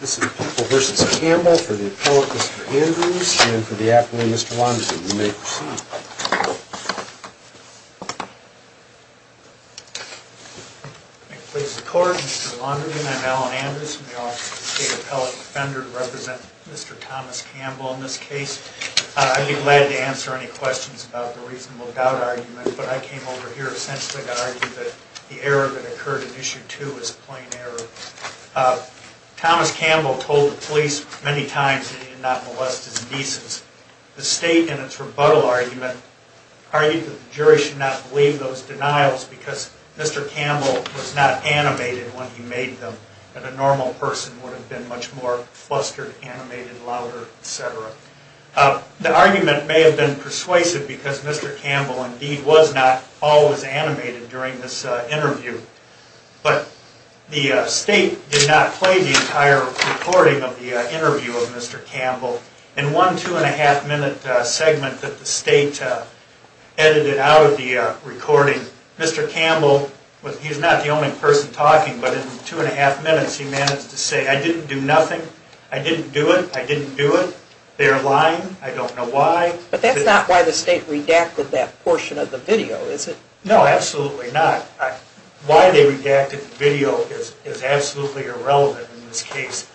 This is People v. Campbell for the appellate, Mr. Andrews, and for the appellate, Mr. Launderden. You may proceed. I beg your pardon, Mr. Launderden. I'm Alan Andrews. I'm the office of the State Appellate Defender to represent Mr. Thomas Campbell in this case. I'd be glad to answer any questions about the reasonable doubt argument, but I came over here essentially to argue that the error that occurred in Issue 2 is a plain error. Thomas Campbell told the police many times that he did not molest his nieces. The State, in its rebuttal argument, argued that the jury should not believe those denials because Mr. Campbell was not animated when he made them, and a normal person would have been much more flustered, animated, louder, etc. The argument may have been persuasive because Mr. Campbell indeed was not always animated during this interview. But the State did not play the entire recording of the interview of Mr. Campbell. In one two-and-a-half-minute segment that the State edited out of the recording, Mr. Campbell, he's not the only person talking, but in two-and-a-half minutes he managed to say, I didn't do nothing, I didn't do it, I didn't do it, they're lying, I don't know why. But that's not why the State redacted that portion of the video, is it? No, absolutely not. Why they redacted the video is absolutely irrelevant in this case.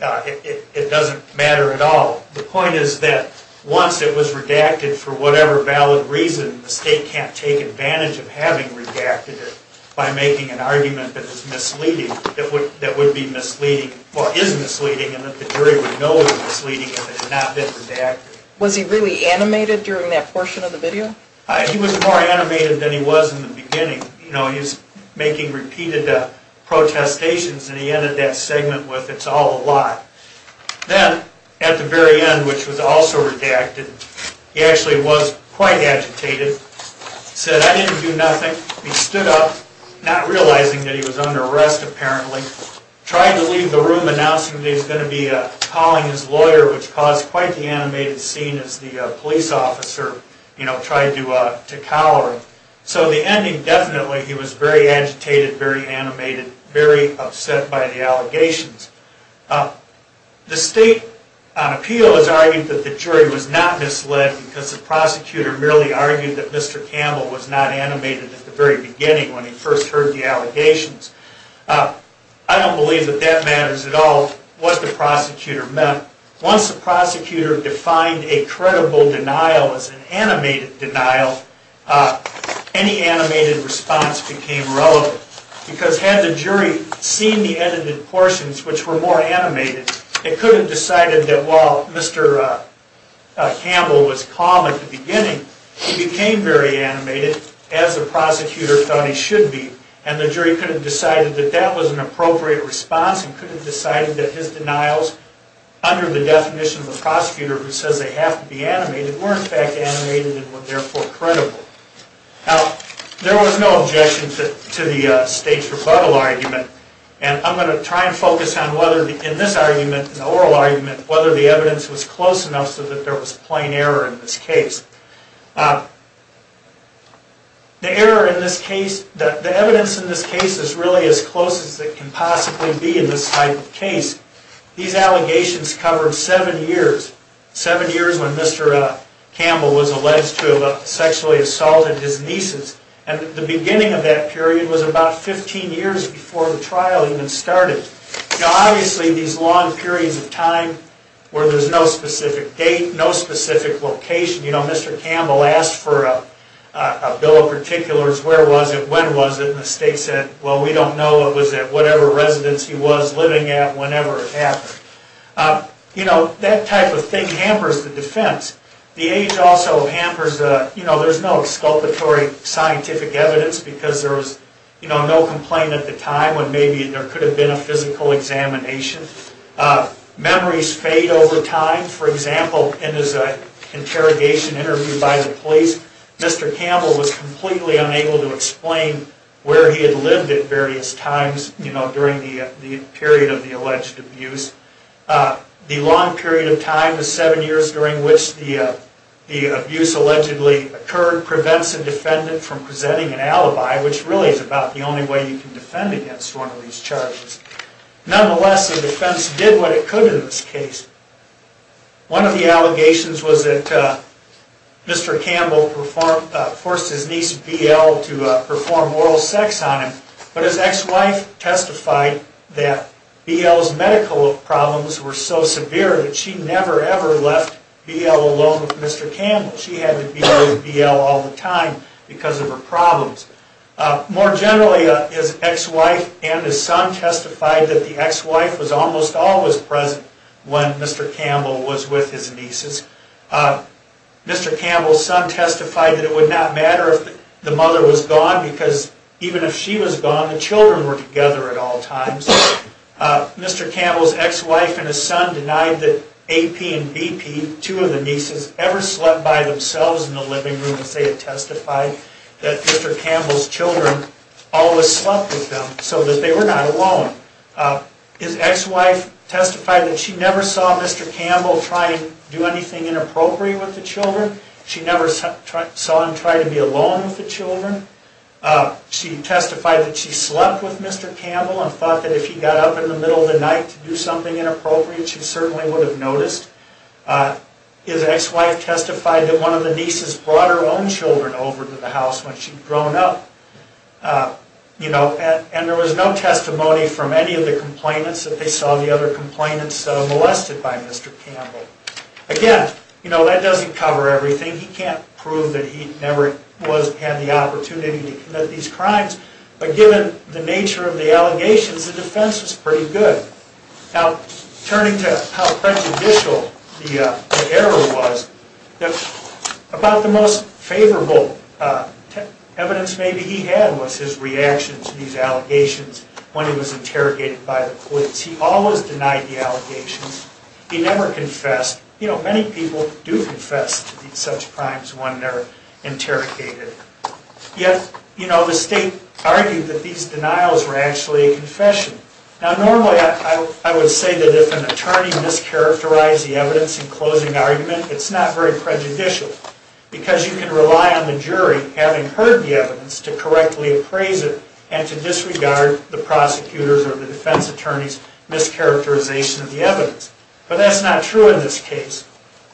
It doesn't matter at all. The point is that once it was redacted, for whatever valid reason, the State can't take advantage of having redacted it by making an argument that is misleading, or is misleading, and that the jury would know it was misleading if it had not been redacted. Was he really animated during that portion of the video? He was more animated than he was in the beginning. He was making repeated protestations, and he ended that segment with, it's all a lie. Then, at the very end, which was also redacted, he actually was quite agitated. He said, I didn't do nothing. He stood up, not realizing that he was under arrest, apparently. Tried to leave the room, announcing that he was going to be calling his lawyer, which caused quite the animated scene as the police officer tried to collar him. So, the ending, definitely, he was very agitated, very animated, very upset by the allegations. The State, on appeal, has argued that the jury was not misled because the prosecutor merely argued that Mr. Campbell was not animated at the very beginning, when he first heard the allegations. I don't believe that that matters at all, what the prosecutor meant. Once the prosecutor defined a credible denial as an animated denial, any animated response became relevant. Because had the jury seen the edited portions, which were more animated, they could have decided that while Mr. Campbell was calm at the beginning, he became very animated, as the prosecutor thought he should be. And the jury could have decided that that was an appropriate response, and could have decided that his denials, under the definition of a prosecutor who says they have to be animated, were in fact animated and were therefore credible. Now, there was no objection to the State's rebuttal argument, and I'm going to try and focus on whether, in this argument, in the oral argument, whether the evidence was close enough so that there was plain error in this case. The evidence in this case is really as close as it can possibly be in this type of case. These allegations covered seven years. Seven years when Mr. Campbell was alleged to have sexually assaulted his nieces, and the beginning of that period was about 15 years before the trial even started. Now, obviously, these long periods of time where there's no specific date, no specific location, you know, Mr. Campbell asked for a bill of particulars, where was it, when was it, and the State said, well, we don't know, it was at whatever residence he was living at whenever it happened. You know, that type of thing hampers the defense. The age also hampers, you know, there's no exculpatory scientific evidence, because there was, you know, no complaint at the time when maybe there could have been a physical examination. Memories fade over time. For example, in his interrogation interview by the police, Mr. Campbell was completely unable to explain where he had lived at various times, you know, during the period of the alleged abuse. The long period of time, the seven years during which the abuse allegedly occurred, prevents a defendant from presenting an alibi, which really is about the only way you can defend against one of these charges. Nonetheless, the defense did what it could in this case. One of the allegations was that Mr. Campbell forced his niece, BL, to perform oral sex on him, but his ex-wife testified that BL's medical problems were so severe that she never, ever left BL alone with Mr. Campbell. She had to be with BL all the time because of her problems. More generally, his ex-wife and his son testified that the ex-wife was almost always present when Mr. Campbell was with his nieces. Mr. Campbell's son testified that it would not matter if the mother was gone, because even if she was gone, the children were together at all times. Mr. Campbell's ex-wife and his son denied that AP and BP, two of the nieces, ever slept by themselves in the living room, as they had testified, that Mr. Campbell's children always slept with them so that they were not alone. His ex-wife testified that she never saw Mr. Campbell try to do anything inappropriate with the children. She never saw him try to be alone with the children. She testified that she slept with Mr. Campbell and thought that if he got up in the middle of the night to do something inappropriate, she certainly would have noticed. His ex-wife testified that one of the nieces brought her own children over to the house when she'd grown up. There was no testimony from any of the complainants that they saw the other complainants molested by Mr. Campbell. Again, that doesn't cover everything. He can't prove that he never had the opportunity to commit these crimes, but given the nature of the allegations, the defense was pretty good. Now, turning to how prejudicial the error was, about the most favorable evidence maybe he had was his reaction to these allegations when he was interrogated by the police. He always denied the allegations. He never confessed. You know, many people do confess to such crimes when they're interrogated. Yet, you know, the state argued that these denials were actually a confession. Now, normally I would say that if an attorney mischaracterized the evidence in closing argument, it's not very prejudicial because you can rely on the jury, having heard the evidence, to correctly appraise it and to disregard the prosecutor's or the defense attorney's mischaracterization of the evidence. But that's not true in this case.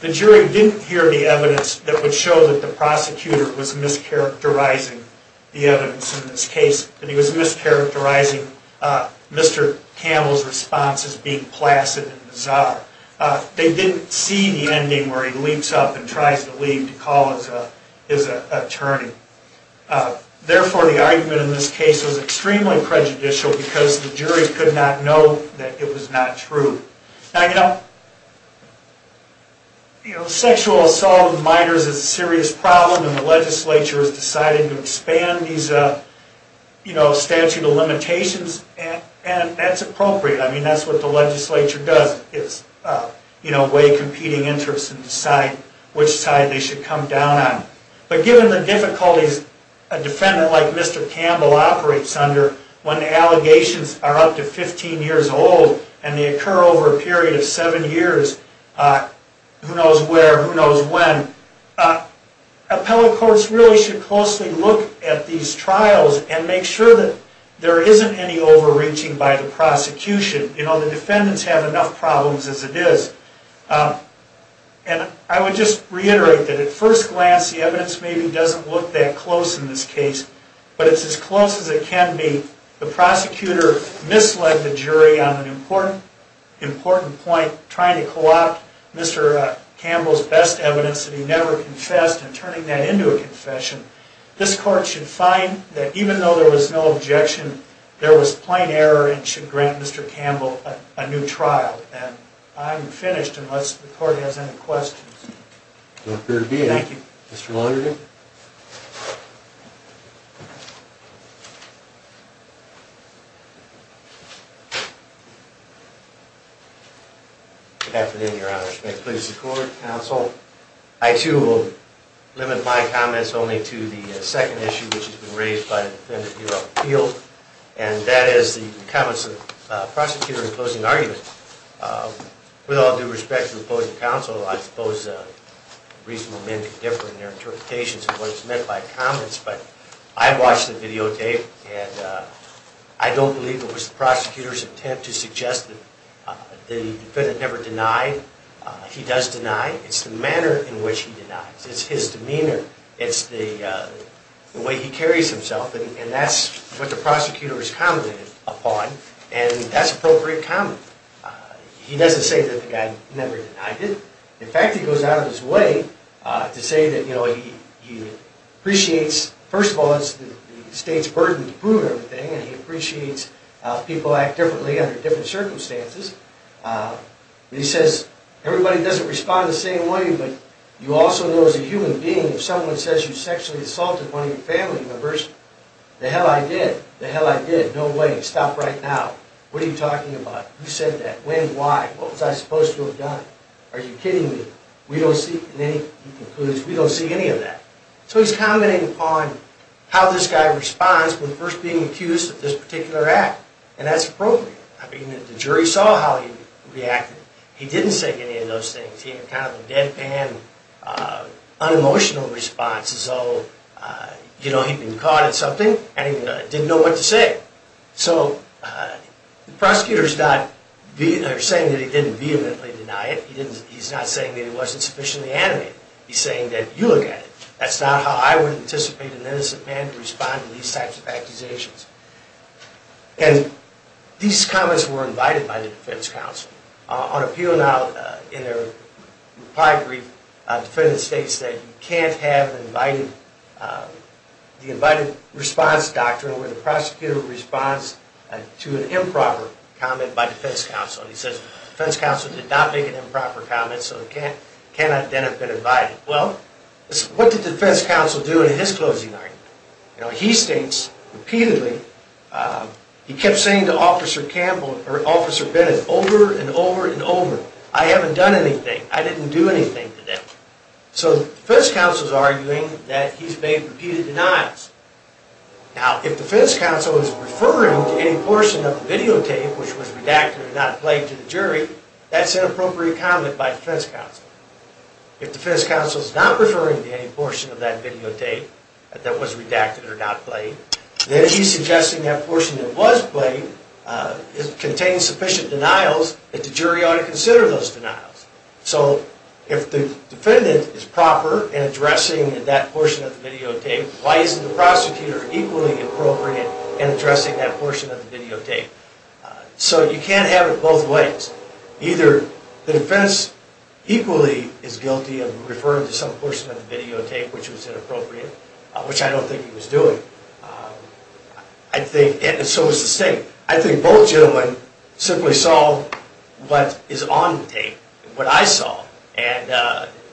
The jury didn't hear the evidence that would show that the prosecutor was mischaracterizing the evidence in this case, that he was mischaracterizing Mr. Campbell's response as being placid and bizarre. They didn't see the ending where he leaps up and tries to leave to call his attorney. Therefore, the argument in this case was extremely prejudicial because the jury could not know that it was not true. Now, you know, you know, sexual assault of minors is a serious problem and the legislature has decided to expand these, you know, statute of limitations, and that's appropriate. I mean, that's what the legislature does. It's, you know, weigh competing interests and decide which side they should come down on. But given the difficulties a defendant like Mr. Campbell operates under, when allegations are up to 15 years old and they occur over a period of seven years, who knows where, who knows when, appellate courts really should closely look at these trials and make sure that there isn't any overreaching by the prosecution. You know, the defendants have enough problems as it is. And I would just reiterate that at first glance the evidence maybe doesn't look that close in this case, but it's as close as it can be. If the prosecutor misled the jury on an important point, trying to co-opt Mr. Campbell's best evidence that he never confessed and turning that into a confession, this court should find that even though there was no objection, there was plain error and should grant Mr. Campbell a new trial. And I'm finished unless the court has any questions. I'm here to be, thank you. Mr. Lauderdale. Good afternoon, Your Honor. May it please the court, counsel. I too will limit my comments only to the second issue which has been raised by the defendant, and that is the comments of the prosecutor in the closing argument. With all due respect to the opposing counsel, I suppose reasonable men can differ in their interpretations of what is meant by comments, but I watched the videotape, and I don't believe it was the prosecutor's intent to suggest that the defendant never denied. He does deny. It's the manner in which he denies. It's his demeanor. It's the way he carries himself, and that's what the prosecutor has commented upon, and that's appropriate comment. He doesn't say that the guy never denied it. In fact, he goes out of his way to say that he appreciates, first of all, it's the state's burden to prove everything, and he appreciates people act differently under different circumstances. He says, everybody doesn't respond the same way, but you also know as a human being, if someone says you sexually assaulted one of your family members, the hell I did. The hell I did. No way. Stop right now. What are you talking about? Who said that? When? Why? What was I supposed to have done? Are you kidding me? We don't see any of that. So he's commenting upon how this guy responds when first being accused of this particular act, and that's appropriate. I mean, the jury saw how he reacted. He didn't say any of those things. He had kind of a deadpan, unemotional response. You know, he'd been caught at something, and he didn't know what to say. So the prosecutor's not saying that he didn't vehemently deny it. He's not saying that he wasn't sufficiently animated. He's saying that you look at it. That's not how I would anticipate an innocent man to respond to these types of accusations. And these comments were invited by the defense counsel. On appeal now, in their reply brief, the defendant states that you can't have the invited response doctrine where the prosecutor responds to an improper comment by defense counsel. He says defense counsel did not make an improper comment, so it cannot then have been invited. Well, what did defense counsel do in his closing argument? You know, he states repeatedly. He kept saying to Officer Campbell, or Officer Bennett, over and over and over, I haven't done anything. I didn't do anything today. So defense counsel's arguing that he's made repeated denials. Now, if defense counsel is referring to any portion of the videotape which was redacted or not played to the jury, that's an appropriate comment by defense counsel. If defense counsel's not referring to any portion of that videotape that was redacted or not played, then he's suggesting that portion that was played contains sufficient denials that the jury ought to consider those denials. So if the defendant is proper in addressing that portion of the videotape, why isn't the prosecutor equally appropriate in addressing that portion of the videotape? So you can't have it both ways. Either the defense equally is guilty of referring to some portion of the videotape which was inappropriate, which I don't think he was doing, and so is the state. I think both gentlemen simply saw what is on the tape, what I saw, and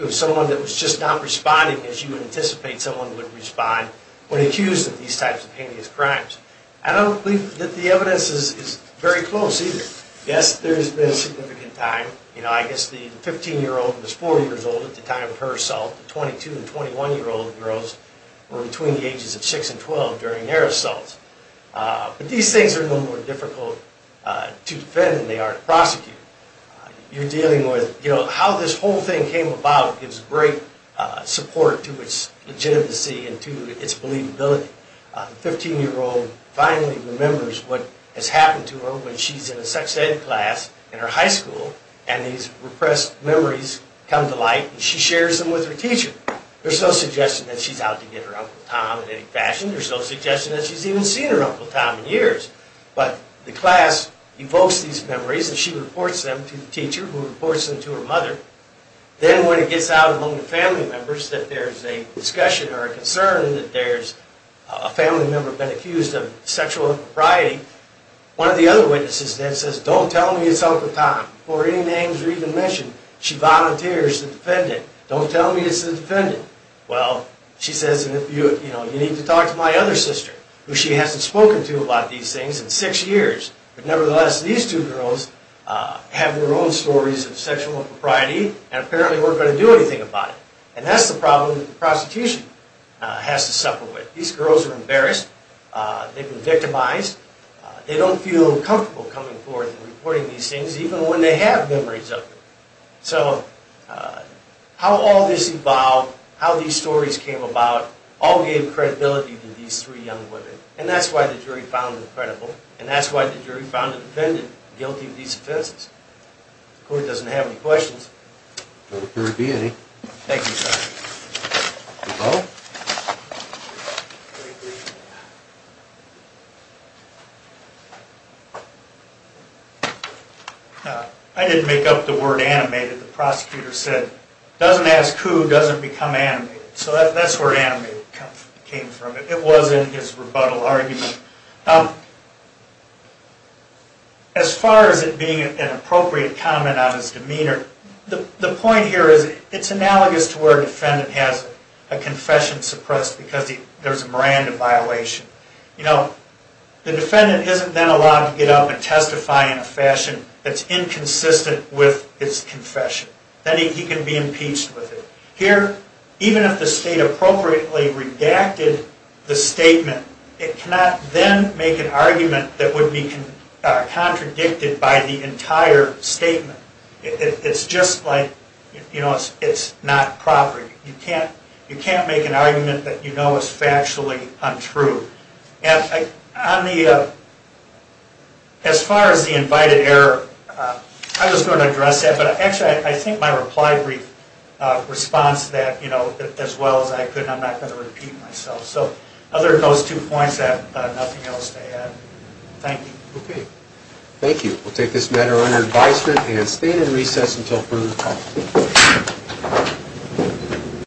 it was someone that was just not responding as you would anticipate someone would respond when accused of these types of heinous crimes. I don't believe that the evidence is very close either. Yes, there has been significant time. You know, I guess the 15-year-old was 4 years old at the time of her assault. The 22- and 21-year-old girls were between the ages of 6 and 12 during their assault. But these things are no more difficult to defend than they are to prosecute. You're dealing with, you know, how this whole thing came about gives great support to its legitimacy and to its believability. The 15-year-old finally remembers what has happened to her when she's in a sex-ed class in her high school, and these repressed memories come to light, and she shares them with her teacher. There's no suggestion that she's out to get her Uncle Tom in any fashion. There's no suggestion that she's even seen her Uncle Tom in years. But the class evokes these memories, and she reports them to the teacher, who reports them to her mother. Then when it gets out among the family members that there's a discussion or a concern and that there's a family member been accused of sexual impropriety, one of the other witnesses then says, Don't tell me it's Uncle Tom before any names are even mentioned. She volunteers to defend it. Don't tell me it's the defendant. Well, she says, You need to talk to my other sister, who she hasn't spoken to about these things in six years. But nevertheless, these two girls have their own stories of sexual impropriety, and apparently weren't going to do anything about it. And that's the problem that the prosecution has to suffer with. These girls are embarrassed. They've been victimized. They don't feel comfortable coming forth and reporting these things, even when they have memories of them. So how all this evolved, how these stories came about, all gave credibility to these three young women. And that's why the jury found them credible, and that's why the jury found the defendant guilty of these offenses. The court doesn't have any questions. Thank you, Judge. Hello? I didn't make up the word animated. The prosecutor said, Doesn't ask who doesn't become animated. So that's where animated came from. It wasn't his rebuttal argument. As far as it being an appropriate comment on his demeanor, the point here is it's analogous to where a defendant has a confession suppressed because there's a Miranda violation. The defendant isn't then allowed to get up and testify in a fashion that's inconsistent with his confession. Then he can be impeached with it. Here, even if the state appropriately redacted the statement, it cannot then make an argument that would be contradicted by the entire statement. It's just like it's not proper. You can't make an argument that you know is factually untrue. As far as the invited error, I was going to address that, but actually I think my reply brief responds to that as well as I could, and I'm not going to repeat myself. Other than those two points, I have nothing else to add. Thank you. Okay. Thank you. We'll take this matter under advisement and stand in recess until further call.